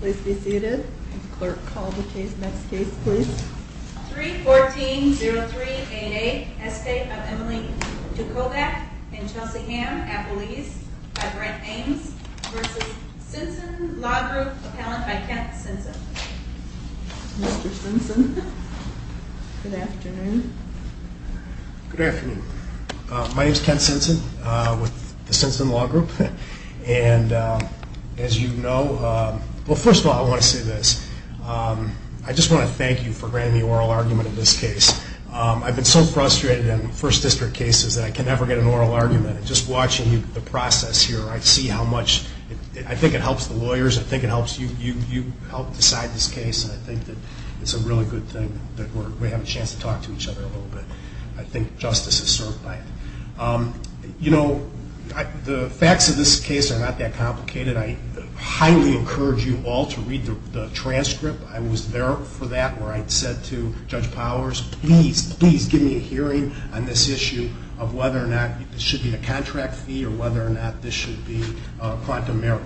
Please be seated. Clerk, call the next case, please. 3-14-0388, estate of Emily Dukovac in Chelseyham, Appalachia, by Brent Ames v. Sinson Law Group, appellant by Kent Sinson. Mr. Sinson. Good afternoon. Good afternoon. My name is Kent Sinson with the Sinson Law Group. And as you know, well, first of all, I want to say this. I just want to thank you for granting me oral argument in this case. I've been so frustrated in first district cases that I can never get an oral argument. And just watching the process here, I see how much I think it helps the lawyers. I think it helps you help decide this case. And I think that it's a really good thing that we have a chance to talk to each other a little bit. I think justice is served by it. You know, the facts of this case are not that complicated. I highly encourage you all to read the transcript. I was there for that where I said to Judge Powers, please, please give me a hearing on this issue of whether or not this should be a contract fee or whether or not this should be a front demerit.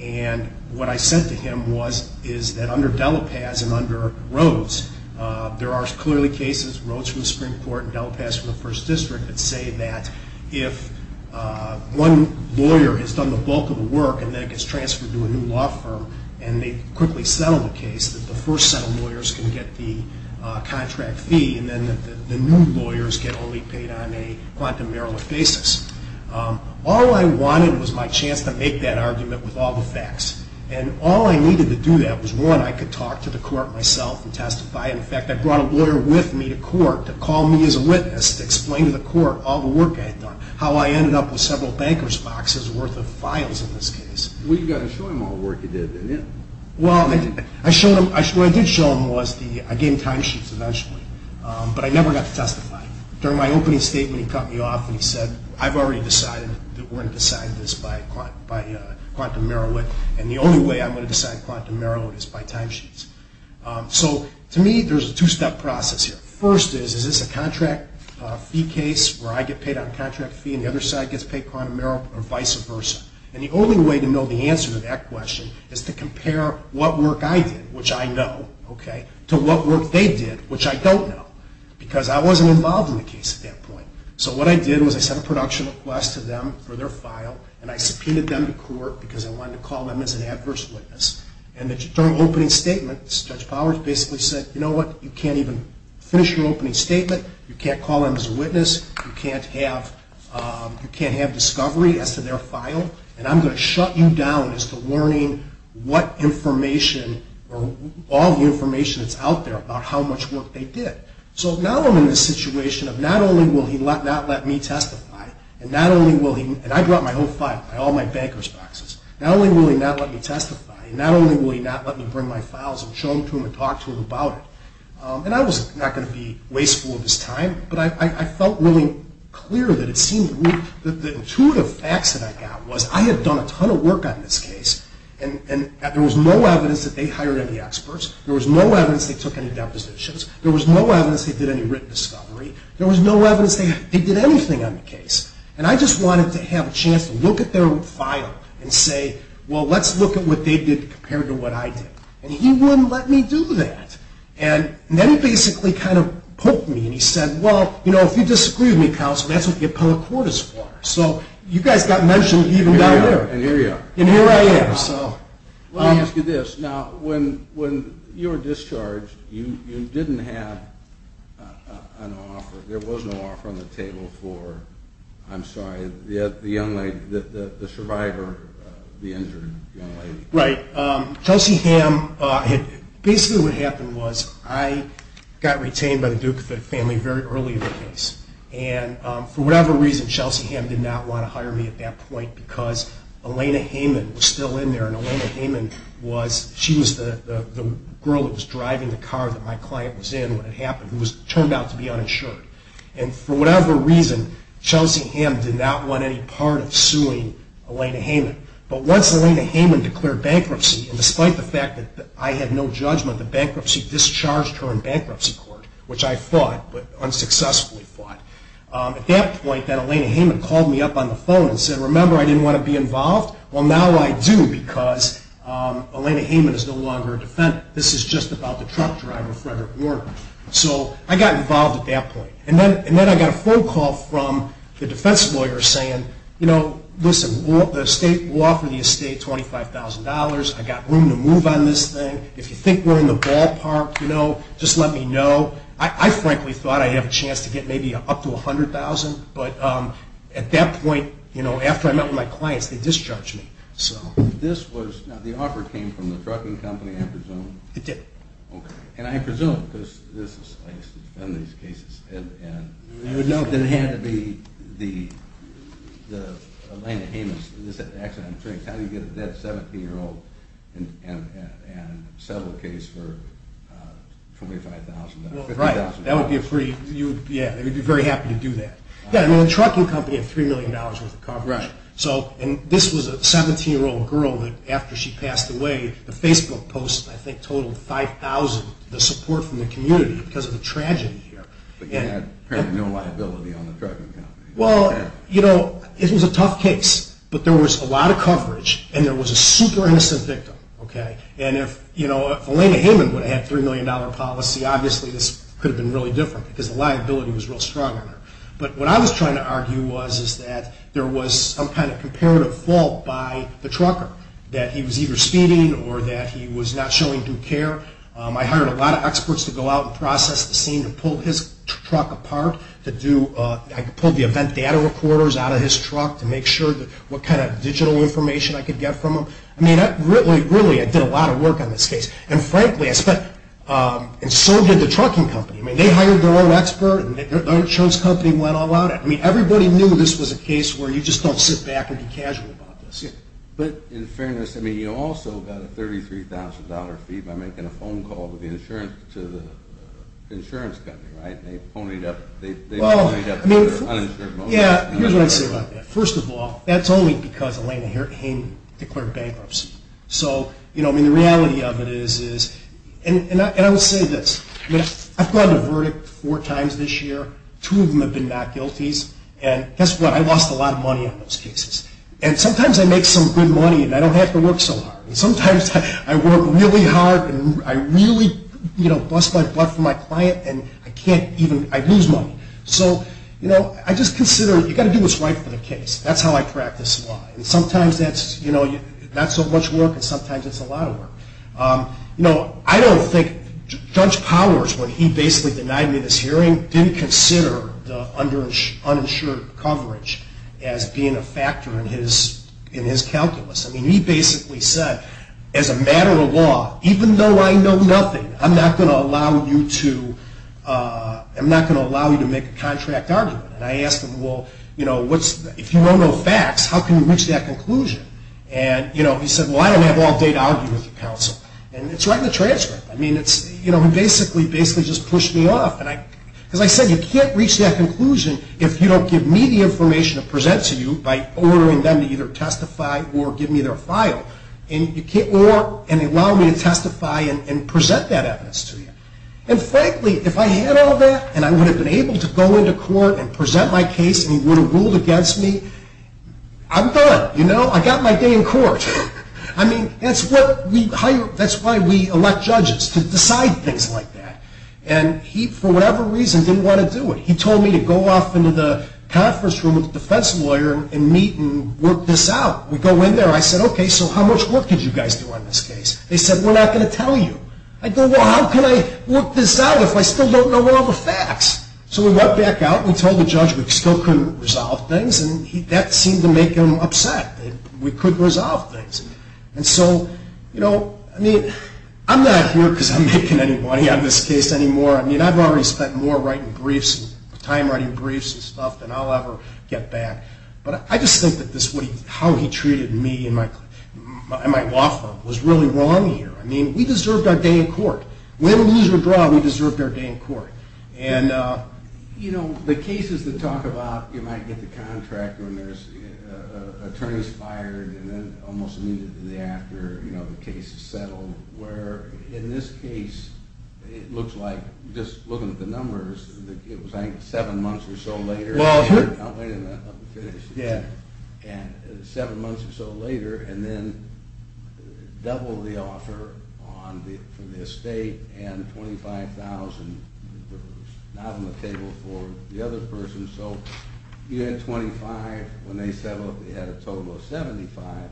And what I said to him is that under Delapaz and under Rhodes, there are clearly cases, Rhodes from the Supreme Court and Delapaz from the first district, that say that if one lawyer has done the bulk of the work and then it gets transferred to a new law firm and they quickly settle the case, that the first set of lawyers can get the contract fee and then the new lawyers get only paid on a front demerit basis. All I wanted was my chance to make that argument with all the facts. And all I needed to do that was, one, I could talk to the court myself and testify. In fact, I brought a lawyer with me to court to call me as a witness, to explain to the court all the work I had done, how I ended up with several bankers' boxes worth of files in this case. Well, you got to show him all the work you did, didn't you? Well, what I did show him was I gave him timesheets eventually, but I never got to testify. During my opening statement, he cut me off and he said, I've already decided that we're going to decide this by quantum merit, and the only way I'm going to decide quantum merit is by timesheets. So to me, there's a two-step process here. First is, is this a contract fee case where I get paid on contract fee and the other side gets paid quantum merit, or vice versa? And the only way to know the answer to that question is to compare what work I did, which I know, okay, to what work they did, which I don't know, because I wasn't involved in the case at that point. So what I did was I sent a production request to them for their file, and I subpoenaed them to court because I wanted to call them as an adverse witness. And the opening statement, Judge Powers basically said, you know what, you can't even finish your opening statement. You can't call them as a witness. You can't have discovery as to their file, and I'm going to shut you down as to learning what information or all the information that's out there about how much work they did. So now I'm in a situation of not only will he not let me testify, and not only will he, and I brought my whole file, all my bankers' boxes. Not only will he not let me testify, not only will he not let me bring my files and show them to him and talk to him about it, and I was not going to be wasteful of his time, but I felt really clear that it seemed that the intuitive facts that I got was I had done a ton of work on this case, and there was no evidence that they hired any experts. There was no evidence they took any depositions. There was no evidence they did any written discovery. There was no evidence they did anything on the case. And I just wanted to have a chance to look at their file and say, well, let's look at what they did compared to what I did. And he wouldn't let me do that. And then he basically kind of poked me and he said, well, you know, if you disagree with me, Counsel, that's what the appellate court is for. So you guys got mentioned even down there. And here you are. And here I am. Let me ask you this. Now, when you were discharged, you didn't have an offer. I'm sorry, the young lady, the survivor, the injured young lady. Right. Chelsea Hamm, basically what happened was I got retained by the Duke family very early in the case. And for whatever reason, Chelsea Hamm did not want to hire me at that point because Elena Heyman was still in there. And Elena Heyman was, she was the girl that was driving the car that my client was in when it happened, who turned out to be uninsured. And for whatever reason, Chelsea Hamm did not want any part of suing Elena Heyman. But once Elena Heyman declared bankruptcy, and despite the fact that I had no judgment, the bankruptcy discharged her in bankruptcy court, which I fought, but unsuccessfully fought. At that point then, Elena Heyman called me up on the phone and said, remember I didn't want to be involved? Well, now I do because Elena Heyman is no longer a defendant. This is just about the truck driver, Frederick Warner. So I got involved at that point. And then I got a phone call from the defense lawyer saying, you know, listen, we'll offer the estate $25,000. I've got room to move on this thing. If you think we're in the ballpark, you know, just let me know. I frankly thought I'd have a chance to get maybe up to $100,000. But at that point, you know, after I met with my clients, they discharged me. This was, now the offer came from the trucking company, I presume? It did. Okay. And I presume, because this is, I used to defend these cases. You would know that it had to be the Elena Heyman's accident. How do you get a dead 17-year-old and settle a case for $25,000, $50,000? Right. That would be a pretty, yeah, they would be very happy to do that. Yeah, I mean the trucking company had $3 million worth of coverage. Right. So, and this was a 17-year-old girl that after she passed away, the Facebook post I think totaled 5,000, the support from the community because of the tragedy here. But you had apparently no liability on the trucking company. Well, you know, it was a tough case. But there was a lot of coverage, and there was a super innocent victim. Okay. And if, you know, if Elena Heyman would have had a $3 million policy, obviously this could have been really different because the liability was real strong on her. But what I was trying to argue was, is that there was some kind of comparative fault by the trucker, that he was either speeding or that he was not showing due care. I hired a lot of experts to go out and process the scene and pull his truck apart to do, I pulled the event data recorders out of his truck to make sure that what kind of digital information I could get from him. I mean, really, really, I did a lot of work on this case. And frankly, I spent, and so did the trucking company. I mean, they hired their own expert, and their insurance company went all out. I mean, everybody knew this was a case where you just don't sit back and be casual about this. But in fairness, I mean, you also got a $33,000 fee by making a phone call to the insurance company, right? They ponied up their uninsured motive. Yeah, here's what I'd say about that. First of all, that's only because Elena Heyman declared bankruptcy. So, you know, I mean, the reality of it is, and I will say this, I've gotten a verdict four times this year. Two of them have been not guilties. And guess what? I lost a lot of money on those cases. And sometimes I make some good money, and I don't have to work so hard. And sometimes I work really hard, and I really, you know, bust my butt for my client, and I can't even, I lose money. So, you know, I just consider you've got to do what's right for the case. That's how I practice law. And sometimes that's, you know, not so much work, and sometimes it's a lot of work. You know, I don't think Judge Powers, when he basically denied me this hearing, didn't consider the uninsured coverage as being a factor in his calculus. I mean, he basically said, as a matter of law, even though I know nothing, I'm not going to allow you to make a contract argument. And I asked him, well, you know, if you know no facts, how can you reach that conclusion? And, you know, he said, well, I don't have all day to argue with the counsel. And it's right in the transcript. I mean, it's, you know, he basically just pushed me off. And as I said, you can't reach that conclusion if you don't give me the information to present to you by ordering them to either testify or give me their file, or allow me to testify and present that evidence to you. And frankly, if I had all that and I would have been able to go into court and present my case and he would have ruled against me, I'm good. You know, I got my day in court. I mean, that's what we hire, that's why we elect judges, to decide things like that. And he, for whatever reason, didn't want to do it. He told me to go off into the conference room with a defense lawyer and meet and work this out. We go in there. I said, okay, so how much work did you guys do on this case? They said, we're not going to tell you. I go, well, how can I work this out if I still don't know all the facts? So we went back out. We told the judge we still couldn't resolve things. And that seemed to make him upset that we couldn't resolve things. And so, you know, I mean, I'm not here because I'm making any money on this case anymore. I mean, I've already spent more time writing briefs and stuff than I'll ever get back. But I just think that how he treated me and my law firm was really wrong here. I mean, we deserved our day in court. Win, lose, or draw, we deserved our day in court. And, you know, the cases that talk about you might get the contract when there's attorneys fired and then almost immediately after, you know, the case is settled. Where in this case, it looks like, just looking at the numbers, it was, I think, seven months or so later. I'll wait until I'm finished. Yeah. And seven months or so later, and then double the offer on the estate and $25,000. Not on the table for the other person. So you had $25,000 when they settled. They had a total of $75,000.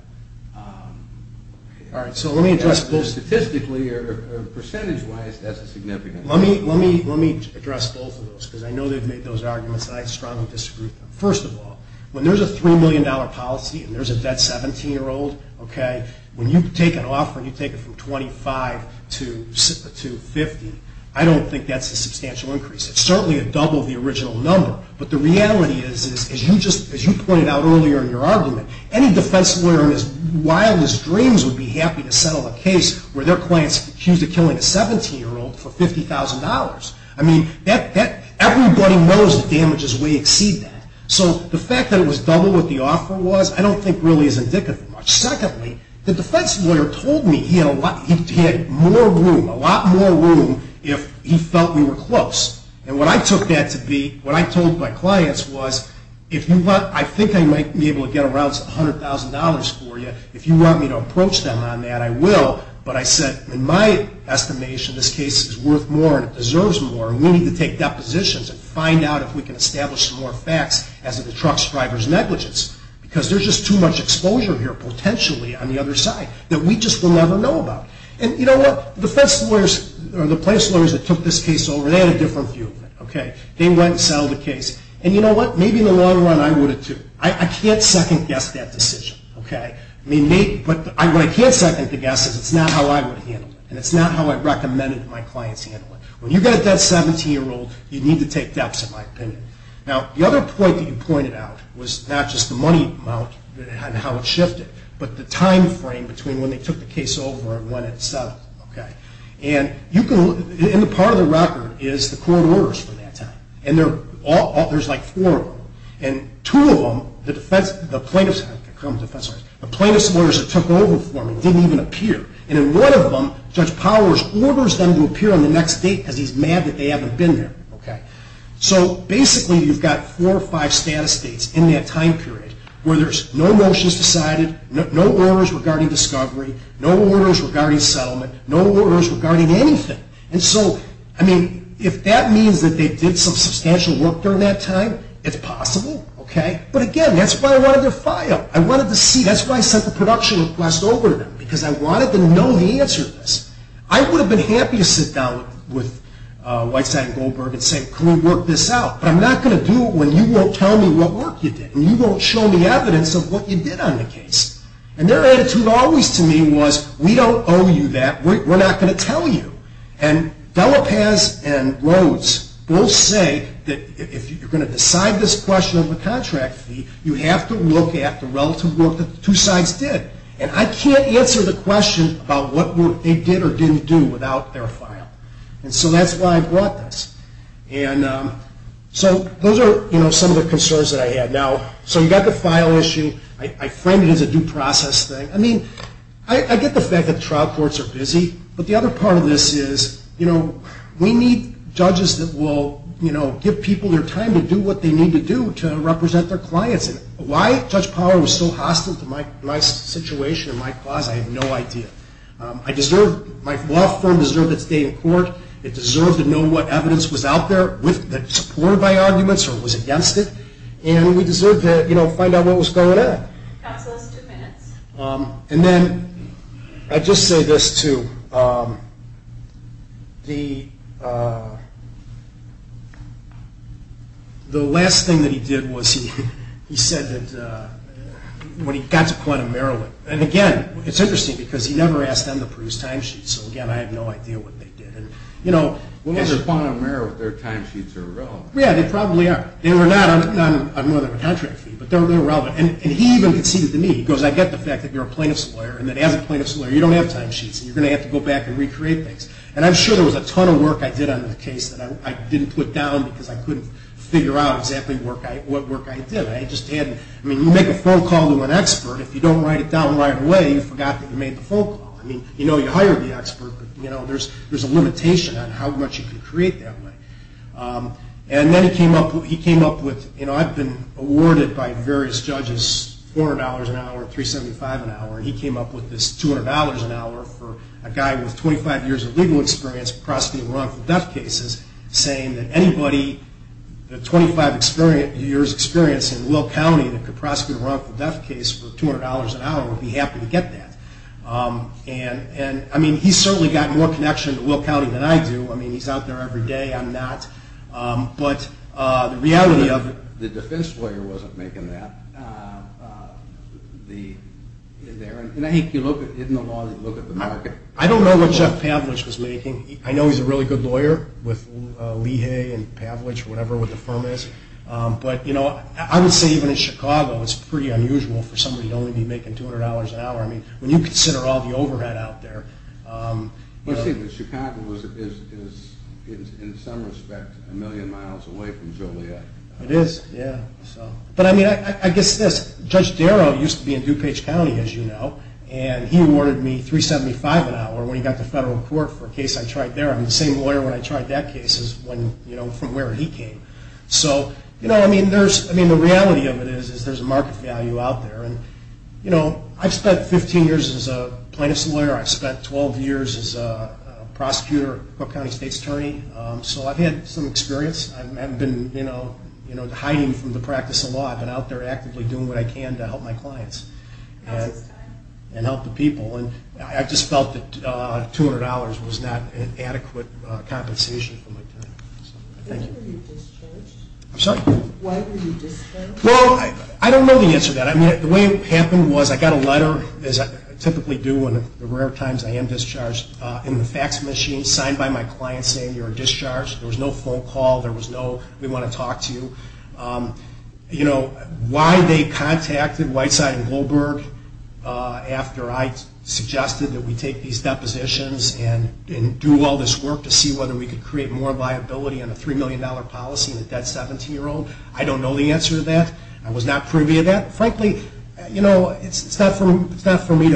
All right. So let me address both. Statistically or percentage-wise, that's a significant difference. Let me address both of those because I know they've made those arguments, and I strongly disagree with them. First of all, when there's a $3 million policy and there's a vet 17-year-old, okay, when you take an offer and you take it from $25,000 to $50,000, I don't think that's a substantial increase. It's certainly a double of the original number. But the reality is, as you pointed out earlier in your argument, any defense lawyer in his wildest dreams would be happy to settle a case where their client's accused of killing a 17-year-old for $50,000. I mean, everybody knows that damages way exceed that. So the fact that it was double what the offer was, I don't think really is indicative much. Secondly, the defense lawyer told me he had more room, a lot more room, if he felt we were close. And what I took that to be, what I told my clients was, if you want, I think I might be able to get around $100,000 for you. If you want me to approach them on that, I will. But I said, in my estimation, this case is worth more and it deserves more, and we need to take depositions and find out if we can establish some more facts as to the truck driver's negligence. Because there's just too much exposure here, potentially, on the other side, that we just will never know about. And you know what? The defense lawyers or the plaintiffs' lawyers that took this case over, they had a different view of it. They went and settled the case. And you know what? Maybe in the long run, I would have too. I can't second-guess that decision. But what I can't second-guess is it's not how I would have handled it, and it's not how I'd recommend that my clients handle it. When you've got a dead 17-year-old, you need to take depths, in my opinion. Now, the other point that you pointed out was not just the money amount and how it shifted, but the time frame between when they took the case over and when it settled. And part of the record is the court orders from that time. And there's like four of them. And two of them, the plaintiffs' lawyers that took over for me didn't even appear. And in one of them, Judge Powers orders them to appear on the next date because he's mad that they haven't been there. So basically, you've got four or five status dates in that time period where there's no motions decided, no orders regarding discovery, no orders regarding settlement, no orders regarding anything. And so, I mean, if that means that they did some substantial work during that time, it's possible. But again, that's why I wanted to file. I wanted to see. That's why I sent the production request over to them because I wanted to know the answer to this. I would have been happy to sit down with Whiteside and Goldberg and say, can we work this out, but I'm not going to do it when you won't tell me what work you did and you won't show me evidence of what you did on the case. And their attitude always to me was, we don't owe you that. We're not going to tell you. And Delapaz and Rhodes both say that if you're going to decide this question of a contract fee, you have to look at the relative work that the two sides did. And I can't answer the question about what work they did or didn't do without their file. And so that's why I brought this. And so those are some of the concerns that I had. Now, so you've got the file issue. I framed it as a due process thing. I mean, I get the fact that the trial courts are busy. But the other part of this is, you know, we need judges that will, you know, give people their time to do what they need to do to represent their clients. And why Judge Power was so hostile to my situation and my cause, I have no idea. I deserve, my law firm deserved to stay in court. It deserved to know what evidence was out there that supported my arguments or was against it. And we deserved to, you know, find out what was going on. Counselors, two minutes. And then I just say this too. The last thing that he did was he said that when he got to Point of Maryland, and, again, it's interesting because he never asked them to produce time sheets. So, again, I have no idea what they did. Well, they're Point of Maryland. Their time sheets are irrelevant. Yeah, they probably are. They were not on more than a contract fee, but they're irrelevant. And he even conceded to me, he goes, I get the fact that you're a plaintiff's lawyer and that as a plaintiff's lawyer you don't have time sheets and you're going to have to go back and recreate things. And I'm sure there was a ton of work I did on the case that I didn't put down because I couldn't figure out exactly what work I did. I just had, I mean, you make a phone call to an expert. If you don't write it down right away, you forgot that you made the phone call. I mean, you know you hired the expert, but, you know, there's a limitation on how much you can create that way. And then he came up with, you know, I've been awarded by various judges $400 an hour, for a guy with 25 years of legal experience prosecuting wrongful death cases, saying that anybody with 25 years experience in Will County that could prosecute a wrongful death case for $200 an hour would be happy to get that. And, I mean, he's certainly got more connection to Will County than I do. I mean, he's out there every day. I'm not. But the reality of it. The defense lawyer wasn't making that. And I think you look, in the law, you look at the market. I don't know what Jeff Pavlich was making. I know he's a really good lawyer with Lee Hay and Pavlich, whatever the firm is. But, you know, I would say even in Chicago, it's pretty unusual for somebody to only be making $200 an hour. I mean, when you consider all the overhead out there. Well, see, Chicago is, in some respect, a million miles away from Joliet. It is, yeah. But, I mean, I guess this. Judge Darrow used to be in DuPage County, as you know, and he awarded me $375 an hour when he got to federal court for a case I tried there. I'm the same lawyer when I tried that case as when, you know, from where he came. So, you know, I mean, the reality of it is there's a market value out there. And, you know, I've spent 15 years as a plaintiff's lawyer. I've spent 12 years as a prosecutor at Cook County State's Attorney. So I've had some experience. I haven't been, you know, hiding from the practice of law. I've been out there actively doing what I can to help my clients and help the people. And I just felt that $200 was not an adequate compensation for my time. Thank you. When were you discharged? I'm sorry? Why were you discharged? Well, I don't know the answer to that. I mean, the way it happened was I got a letter, as I typically do in the rare times I am discharged, in the fax machine signed by my client saying, you're discharged. There was no phone call. There was no, we want to talk to you. You know, why they contacted Whiteside and Goldberg after I suggested that we take these depositions and do all this work to see whether we could create more liability on a $3 million policy with that 17-year-old, I don't know the answer to that. I was not privy to that. Frankly, you know, it's not for me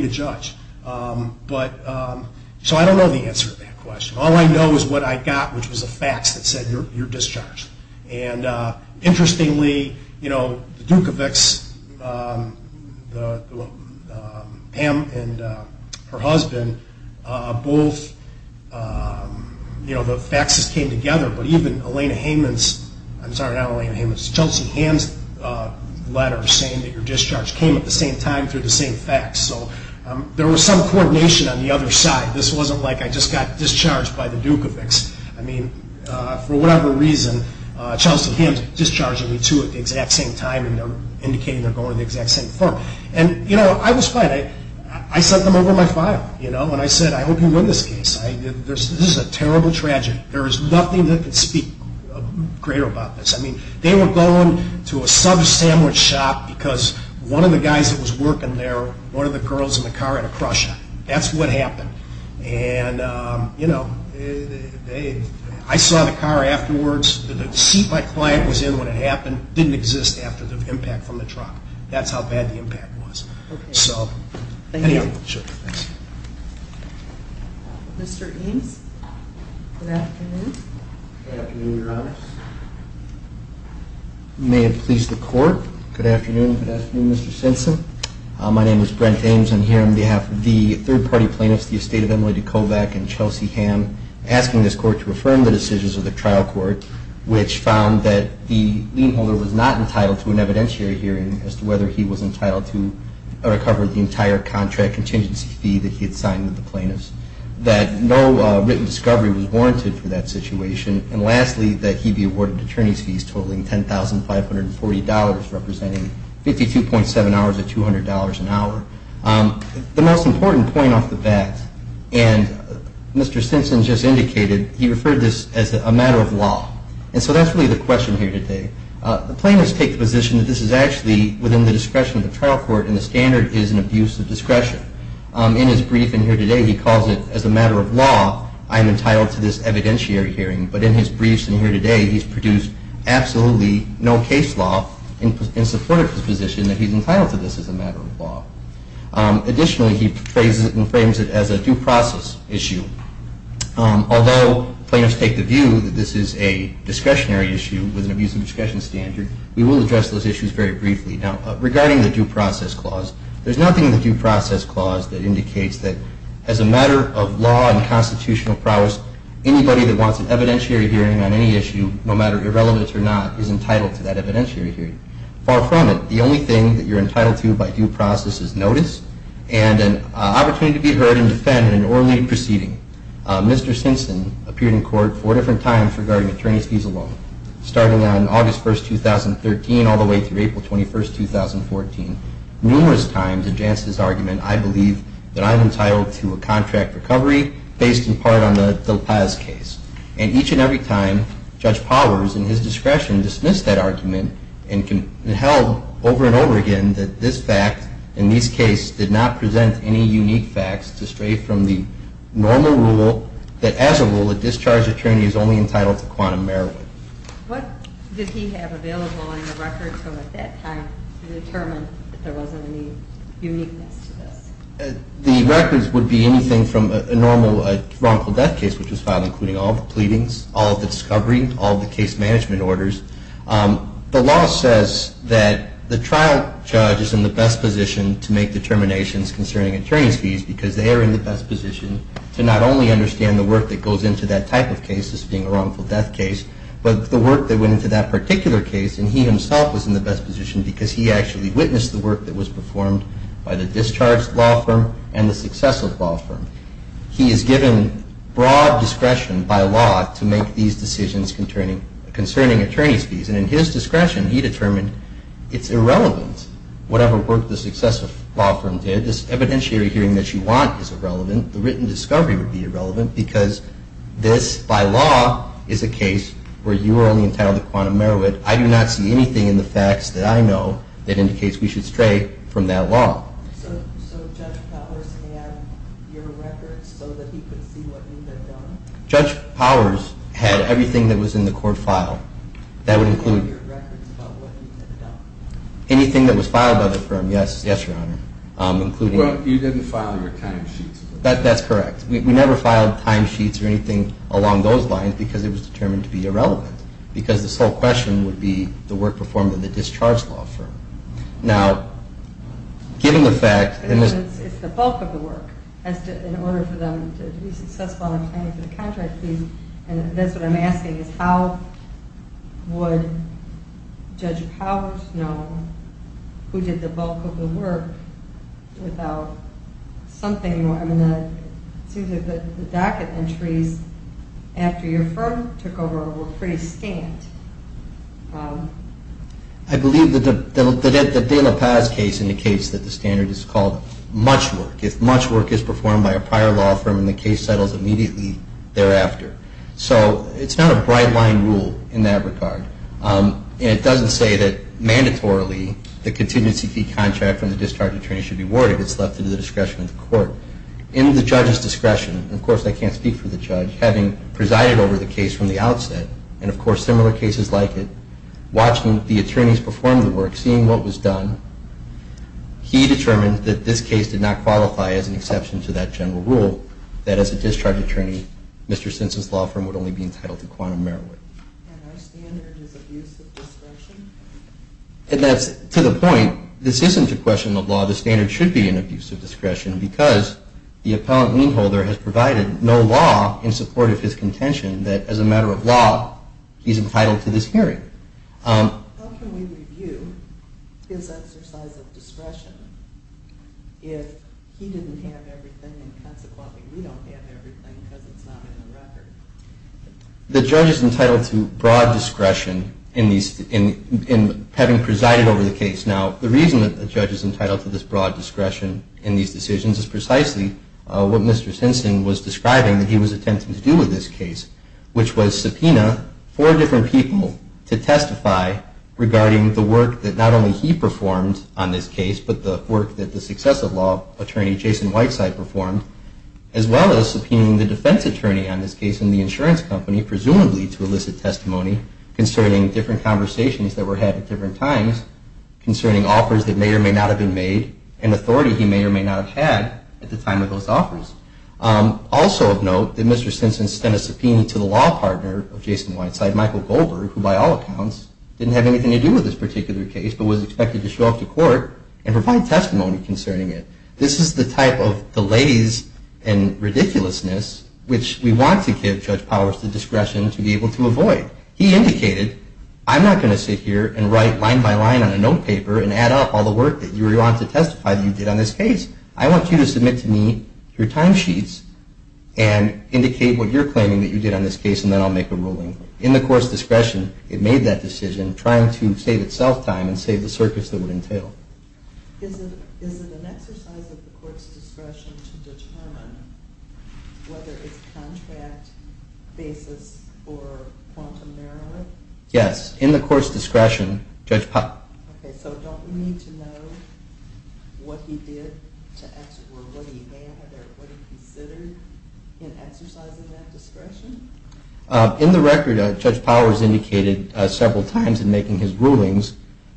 to judge. So I don't know the answer to that question. All I know is what I got, which was a fax that said, you're discharged. And interestingly, you know, the Dukovics, Pam and her husband, both, you know, the faxes came together. But even Elena Hayman's, I'm sorry, not Elena Hayman's, Chelsea Hamm's letter saying that you're discharged came at the same time through the same fax. So there was some coordination on the other side. This wasn't like I just got discharged by the Dukovics. I mean, for whatever reason, Chelsea Hamm's discharging me too at the exact same time and they're indicating they're going to the exact same firm. And, you know, I was fine. I sent them over my file, you know, and I said, I hope you win this case. This is a terrible tragedy. There is nothing that can speak greater about this. I mean, they were going to a sub sandwich shop because one of the guys that was working there, one of the girls in the car had a crush on her. That's what happened. And, you know, I saw the car afterwards. The seat my client was in when it happened didn't exist after the impact from the truck. That's how bad the impact was. Okay. So, anyhow. Thank you. Sure. Thanks. Mr. Eames, good afternoon. Good afternoon, Your Honor. May it please the Court. Good afternoon. Good afternoon, Mr. Simpson. My name is Brent Eames. I'm here on behalf of the third-party plaintiffs, the estate of Emily DeKovac and Chelsea Hamm, asking this Court to affirm the decisions of the trial court, which found that the lien holder was not entitled to an evidentiary hearing as to whether he was entitled to recover the entire contract contingency fee that he had signed with the plaintiffs, that no written discovery was warranted for that situation, and lastly, that he be awarded attorney's fees totaling $10,540, representing 52.7 hours of $200 an hour. The most important point off the bat, and Mr. Simpson just indicated, he referred to this as a matter of law. And so that's really the question here today. The plaintiffs take the position that this is actually within the discretion of the trial court and the standard is an abuse of discretion. In his briefing here today, he calls it, as a matter of law, I am entitled to this evidentiary hearing, but in his briefs in here today, he's produced absolutely no case law in support of his position that he's entitled to this as a matter of law. Additionally, he frames it as a due process issue. Although plaintiffs take the view that this is a discretionary issue with an abuse of discretion standard, we will address those issues very briefly. Now, regarding the due process clause, there's nothing in the due process clause that indicates that as a matter of law and constitutional prowess, anybody that wants an evidentiary hearing on any issue, no matter irrelevant or not, is entitled to that evidentiary hearing. Far from it. The only thing that you're entitled to by due process is notice and an opportunity to be heard and defended in an oral proceeding. Mr. Simpson appeared in court four different times regarding attorney's fees alone, starting on August 1, 2013, all the way through April 21, 2014. Numerous times against his argument, I believe that I'm entitled to a contract recovery based in part on the DelPaz case. And each and every time, Judge Powers, in his discretion, dismissed that argument and held over and over again that this fact in these cases did not present any unique facts to stray from the normal rule that as a rule, a discharge attorney is only entitled to quantum merit. What did he have available in the records from at that time to determine that there wasn't any uniqueness to this? The records would be anything from a normal wrongful death case, which was filed including all the pleadings, all of the discovery, all of the case management orders. The law says that the trial judge is in the best position to make determinations concerning attorney's fees because they are in the best position to not only understand the work that goes into that type of case, this being a wrongful death case, but the work that went into that particular case. And he himself was in the best position because he actually witnessed the work that was performed by the discharged law firm and the successive law firm. He is given broad discretion by law to make these decisions concerning attorney's fees. And in his discretion, he determined it's irrelevant, whatever work the successive law firm did. This evidentiary hearing that you want is irrelevant. The written discovery would be irrelevant because this, by law, is a case where you are only entitled to quantum merit. I do not see anything in the facts that I know that indicates we should stray from that law. So Judge Powers had your records so that he could see what you had done? Judge Powers had everything that was in the court file. That would include anything that was filed by the firm. Yes, Your Honor. You didn't file your timesheets? That's correct. We never filed timesheets or anything along those lines because it was determined to be irrelevant because this whole question would be the work performed by the discharged law firm. Now, given the fact... It's the bulk of the work. In order for them to be successful in paying for the contract fees, And that's what I'm asking is how would Judge Powers know who did the bulk of the work without something... It seems like the docket entries after your firm took over were pretty scant. I believe that the De La Paz case indicates that the standard is called much work. If much work is performed by a prior law firm, the case settles immediately thereafter. So it's not a bright line rule in that regard. It doesn't say that mandatorily the contingency fee contract from the discharged attorney should be warded. It's left to the discretion of the court. In the judge's discretion, and of course I can't speak for the judge, having presided over the case from the outset, and of course similar cases like it, watching the attorneys perform the work, seeing what was done, he determined that this case did not qualify as an exception to that general rule, that as a discharged attorney, Mr. Simpson's law firm would only be entitled to quantum merit. And our standard is abuse of discretion? And that's to the point. This isn't a question of law. The standard should be an abuse of discretion because the appellant lien holder has provided no law in support of his contention that as a matter of law he's entitled to this hearing. How can we review his exercise of discretion if he didn't have everything and consequently we don't have everything because it's not in the record? The judge is entitled to broad discretion in having presided over the case. Now the reason that the judge is entitled to this broad discretion in these decisions is precisely what Mr. Simpson was describing that he was attempting to do with this case, which was subpoena four different people to testify regarding the work that not only he performed on this case, but the work that the successive law attorney, Jason Whiteside, performed, as well as subpoenaing the defense attorney on this case and the insurance company, presumably to elicit testimony concerning different conversations that were had at different times, concerning offers that may or may not have been made and authority he may or may not have had at the time of those offers. Also of note that Mr. Simpson sent a subpoena to the law partner of Jason Whiteside, Michael Goldberg, who by all accounts didn't have anything to do with this particular case but was expected to show up to court and provide testimony concerning it. This is the type of delays and ridiculousness which we want to give Judge Powers the discretion to be able to avoid. He indicated, I'm not going to sit here and write line by line on a notepaper and add up all the work that you were going to testify that you did on this case. I want you to submit to me your timesheets and indicate what you're claiming that you did on this case and then I'll make a ruling. In the court's discretion, it made that decision, trying to save itself time and save the circus that it would entail. Is it an exercise of the court's discretion to determine whether it's contract, basis, or quantum error? Yes. In the court's discretion, Judge Powers. Okay, so don't we need to know what he did or what he had or what he considered in exercising that discretion? In the record, Judge Powers indicated several times in making his rulings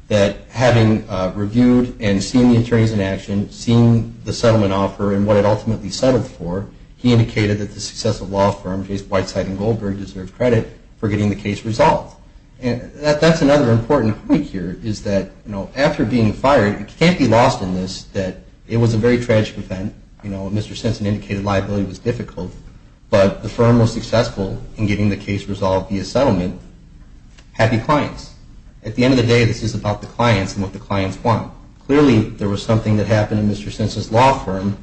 that having reviewed and seen the attorneys in action, seeing the settlement offer and what it ultimately settled for, he indicated that the successful law firm, Jason Whiteside and Goldberg, deserved credit for getting the case resolved. That's another important point here is that after being fired, it can't be lost in this that it was a very tragic event. Mr. Simpson indicated liability was difficult, but the firm was successful in getting the case resolved via settlement. Happy clients. At the end of the day, this is about the clients and what the clients want. Clearly, there was something that happened in Mr. Simpson's law firm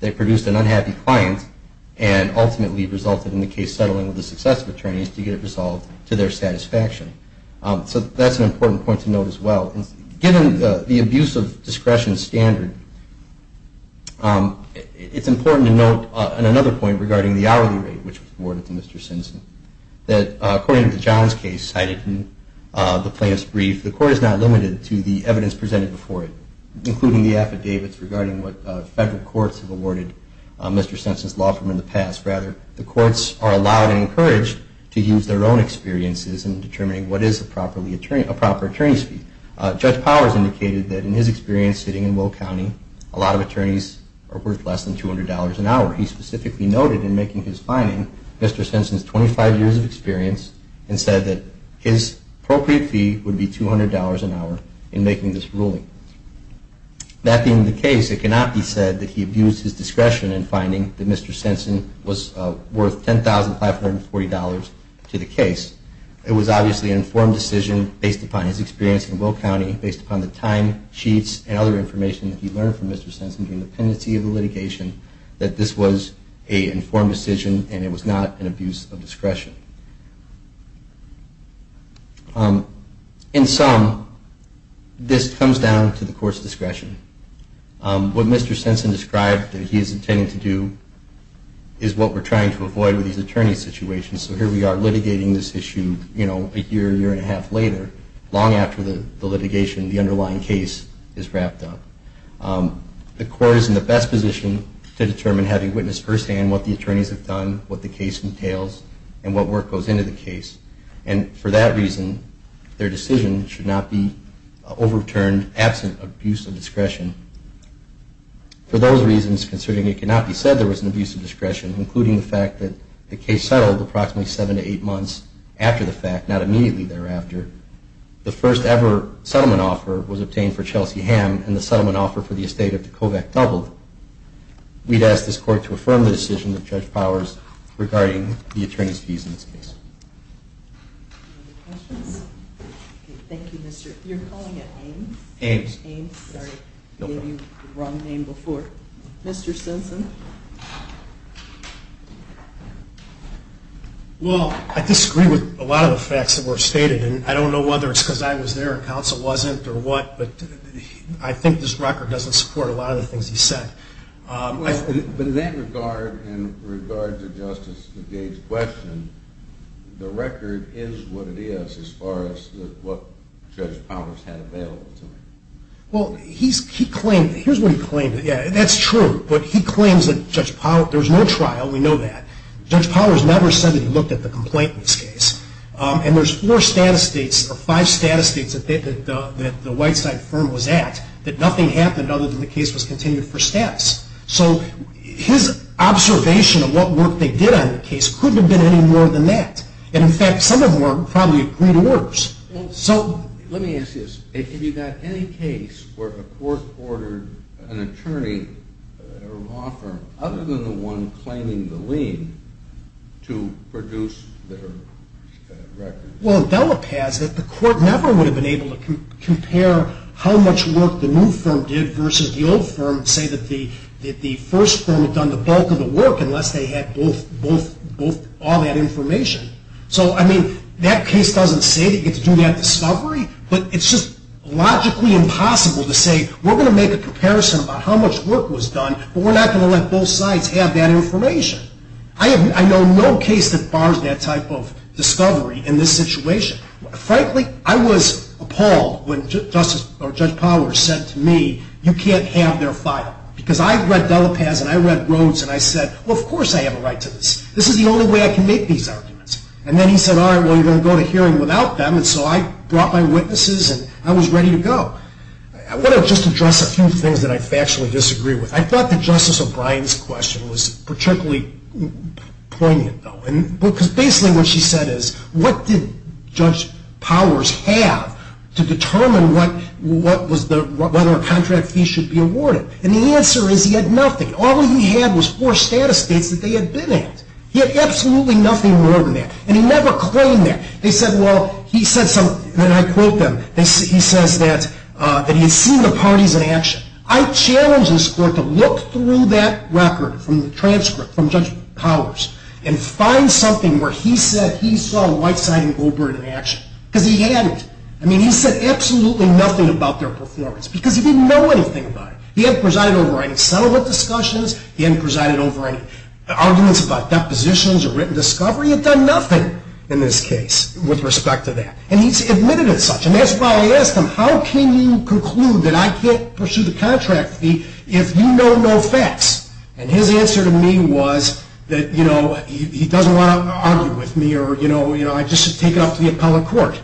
that produced an unhappy client and ultimately resulted in the case settling with the successive attorneys to get it resolved to their satisfaction. So that's an important point to note as well. Given the abuse of discretion standard, it's important to note another point regarding the hourly rate, which was awarded to Mr. Simpson, that according to John's case cited in the plaintiff's brief, the court is not limited to the evidence presented before it, including the affidavits regarding what federal courts have awarded Mr. Simpson's law firm in the past. Rather, the courts are allowed and encouraged to use their own experiences in determining what is a proper attorney's fee. Judge Powers indicated that in his experience sitting in Will County, a lot of attorneys are worth less than $200 an hour. He specifically noted in making his finding Mr. Simpson's 25 years of experience and said that his appropriate fee would be $200 an hour in making this ruling. That being the case, it cannot be said that he abused his discretion in finding that Mr. Simpson was worth $10,540 to the case. It was obviously an informed decision based upon his experience in Will County, based upon the time sheets and other information that he learned from Mr. Simpson during the pendency of the litigation, that this was an informed decision and it was not an abuse of discretion. In sum, this comes down to the court's discretion. What Mr. Simpson described that he is intending to do is what we're trying to avoid with these attorney situations. So here we are litigating this issue a year, year and a half later, long after the litigation, the underlying case, is wrapped up. The court is in the best position to determine, having witnessed firsthand what the attorneys have done, what the case entails, and what work goes into the case. And for that reason, their decision should not be overturned in the absence of abuse of discretion. For those reasons, considering it cannot be said there was an abuse of discretion, including the fact that the case settled approximately seven to eight months after the fact, not immediately thereafter, the first ever settlement offer was obtained for Chelsea Hamm and the settlement offer for the estate of DeKovac doubled, we'd ask this court to affirm the decision of Judge Powers regarding the attorney's fees in this case. Any other questions? Okay. Thank you, Mr. You're calling it Ames? Ames. Ames, sorry. I gave you the wrong name before. Mr. Simpson? Well, I disagree with a lot of the facts that were stated, and I don't know whether it's because I was there and counsel wasn't or what, but I think this record doesn't support a lot of the things he said. But in that regard, in regard to Justice DeGage's question, the record is what it is as far as what Judge Powers had available to him. Well, here's what he claimed. That's true, but he claims that there was no trial. We know that. Judge Powers never said that he looked at the complaint in this case, and there's four status dates or five status dates that the white-side firm was at that nothing happened other than the case was continued for status. So his observation of what work they did on the case couldn't have been any more than that. And, in fact, some of them were probably greater orders. Well, let me ask you this. Have you got any case where the court ordered an attorney or a law firm, other than the one claiming the lien, to produce their record? Well, in Delapaz, the court never would have been able to compare how much work the new firm did versus the old firm and say that the first firm had done the bulk of the work unless they had all that information. So, I mean, that case doesn't say that you get to do that discovery, but it's just logically impossible to say, we're going to make a comparison about how much work was done, but we're not going to let both sides have that information. I know no case that bars that type of discovery in this situation. Frankly, I was appalled when Judge Pollard said to me, you can't have their file. Because I read Delapaz and I read Rhodes and I said, well, of course I have a right to this. This is the only way I can make these arguments. And then he said, all right, well, you're going to go to hearing without them. And so I brought my witnesses and I was ready to go. I want to just address a few things that I factually disagree with. I thought that Justice O'Brien's question was particularly poignant, though. Because basically what she said is, what did Judge Powers have to determine whether a contract fee should be awarded? And the answer is he had nothing. All he had was four status dates that they had been at. He had absolutely nothing more than that. And he never claimed that. They said, well, he said something, and I quote them, he says that he had seen the parties in action. I challenge this Court to look through that record from the transcript, from Judge Powers, and find something where he said he saw Whiteside and Goldberg in action. Because he hadn't. I mean, he said absolutely nothing about their performance. Because he didn't know anything about it. He hadn't presided over any settlement discussions. He hadn't presided over any arguments about depositions or written discovery. He had done nothing in this case with respect to that. And he's admitted as such. And that's why I asked him, how can you conclude that I can't pursue the contract fee if you know no facts? And his answer to me was that, you know, he doesn't want to argue with me, or, you know, I just should take it up to the appellate court.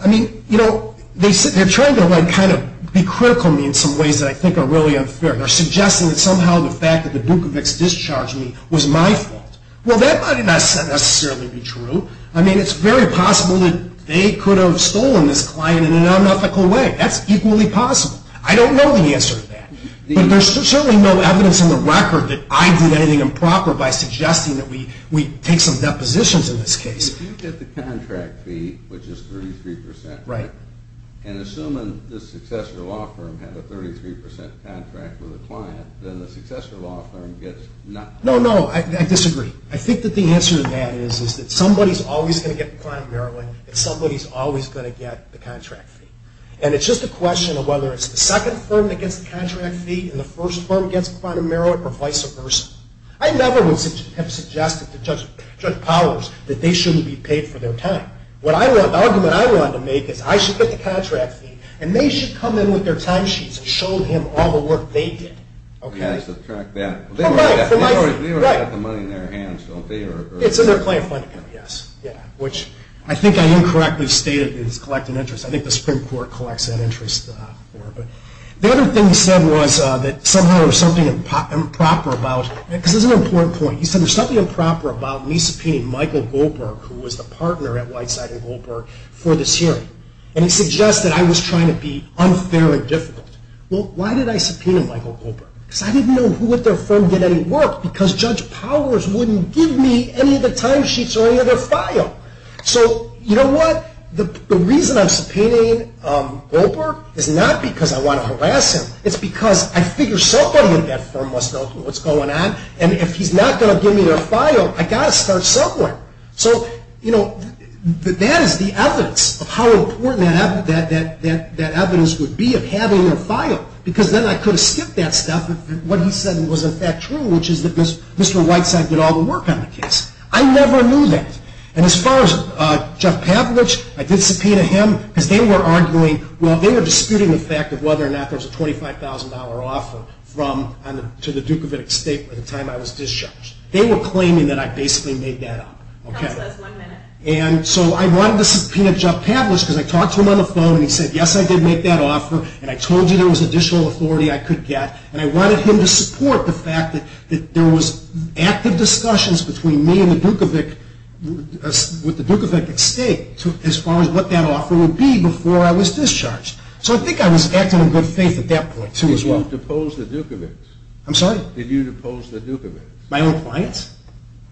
I mean, you know, they're trying to kind of be critical of me in some ways that I think are really unfair. They're suggesting that somehow the fact that the Dukovics discharged me was my fault. Well, that might not necessarily be true. I mean, it's very possible that they could have stolen this client in an unethical way. That's equally possible. I don't know the answer to that. But there's certainly no evidence in the record that I did anything improper by suggesting that we take some depositions in this case. If you get the contract fee, which is 33 percent, right, and assuming the successor law firm had a 33 percent contract with the client, then the successor law firm gets nothing. No, no. I disagree. I think that the answer to that is that somebody's always going to get the client in Maryland, and somebody's always going to get the contract fee. And it's just a question of whether it's the second firm that gets the contract fee and the first firm gets the client in Maryland, or vice versa. I never would have suggested to Judge Powers that they shouldn't be paid for their time. The argument I wanted to make is I should get the contract fee, and they should come in with their time sheets and show him all the work they did. You have to subtract that. They already have the money in their hands, don't they? It's in their claim fund account, yes, which I think I incorrectly stated is collecting interest. I think the Supreme Court collects that interest. The other thing he said was that somehow there's something improper about it. This is an important point. He said there's something improper about me subpoenaing Michael Goldberg, who was the partner at Whiteside and Goldberg, for this hearing. And he suggested I was trying to be unfair and difficult. Well, why did I subpoena Michael Goldberg? Because I didn't know who at their firm did any work because Judge Powers wouldn't give me any of the time sheets or any of their file. So you know what? The reason I'm subpoenaing Goldberg is not because I want to harass him. It's because I figure somebody at that firm must know what's going on, and if he's not going to give me their file, I've got to start somewhere. So, you know, that is the evidence of how important that evidence would be of having their file because then I could have skipped that stuff if what he said wasn't in fact true, which is that Mr. Whiteside did all the work on the case. I never knew that. And as far as Jeff Pavlich, I did subpoena him because they were arguing, well, they were disputing the fact of whether or not there was a $25,000 offer to the Dukovic State at the time I was discharged. They were claiming that I basically made that up. And so I wanted to subpoena Jeff Pavlich because I talked to him on the phone and he said, yes, I did make that offer, and I told you there was additional authority I could get, and I wanted him to support the fact that there was active discussions between me and the Dukovic, with the Dukovic State, as far as what that offer would be before I was discharged. So I think I was acting in good faith at that point, too, as well. Did you depose the Dukovics? I'm sorry? Did you depose the Dukovics? My own clients?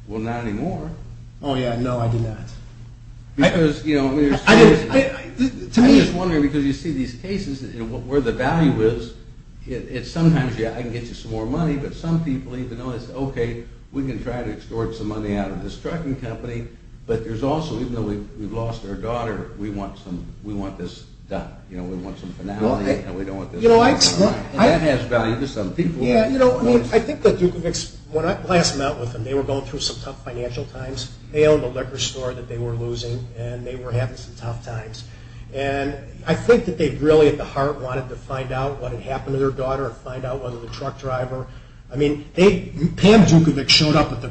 Well, not anymore. Oh, yeah, no, I did not. Because, you know, there's cases... To me... I'm just wondering because you see these cases where the value is, it's sometimes, yeah, I can get you some more money, but some people even notice, okay, we can try to extort some money out of this trucking company, but there's also, even though we've lost our daughter, we want this done. You know, we want some finality, and we don't want this... You know, I... And that has value to some people. Yeah, you know, I mean, I think the Dukovics, when I last met with them, they were going through some tough financial times. They owned a liquor store that they were losing, and they were having some tough times. And I think that they really, at the heart, wanted to find out what had happened to their daughter and find out whether the truck driver... I mean, Pam Dukovic showed up at the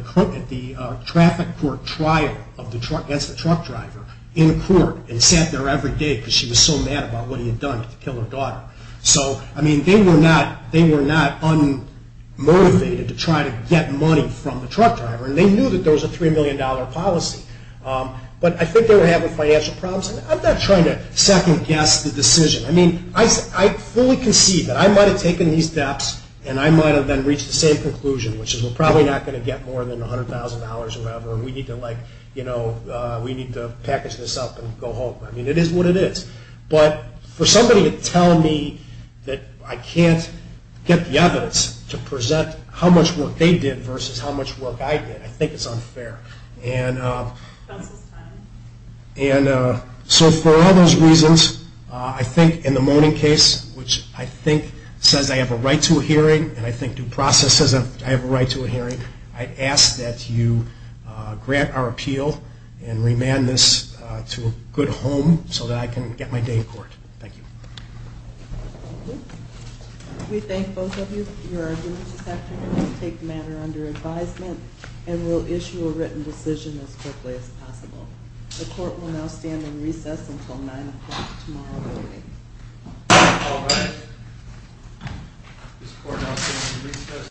traffic court trial against the truck driver in court and sat there every day because she was so mad about what he had done to kill her daughter. So, I mean, they were not unmotivated to try to get money from the truck driver, and they knew that there was a $3 million policy. But I think they were having financial problems. I'm not trying to second-guess the decision. I mean, I fully concede that. I might have taken these steps, and I might have then reached the same conclusion, which is we're probably not going to get more than $100,000 or whatever, and we need to, like, you know, we need to package this up and go home. I mean, it is what it is. But for somebody to tell me that I can't get the evidence to present how much work they did versus how much work I did, I think it's unfair. And so for all those reasons, I think in the Moaning case, which I think says I have a right to a hearing and I think due process says I have a right to a hearing, I ask that you grant our appeal and remand this to a good home so that I can get my day in court. Thank you. Thank you. We thank both of you for your arguments this afternoon. We'll take the matter under advisement, and we'll issue a written decision as quickly as possible. The court will now stand in recess until 9 o'clock tomorrow morning. All rise. This court now stands in recess.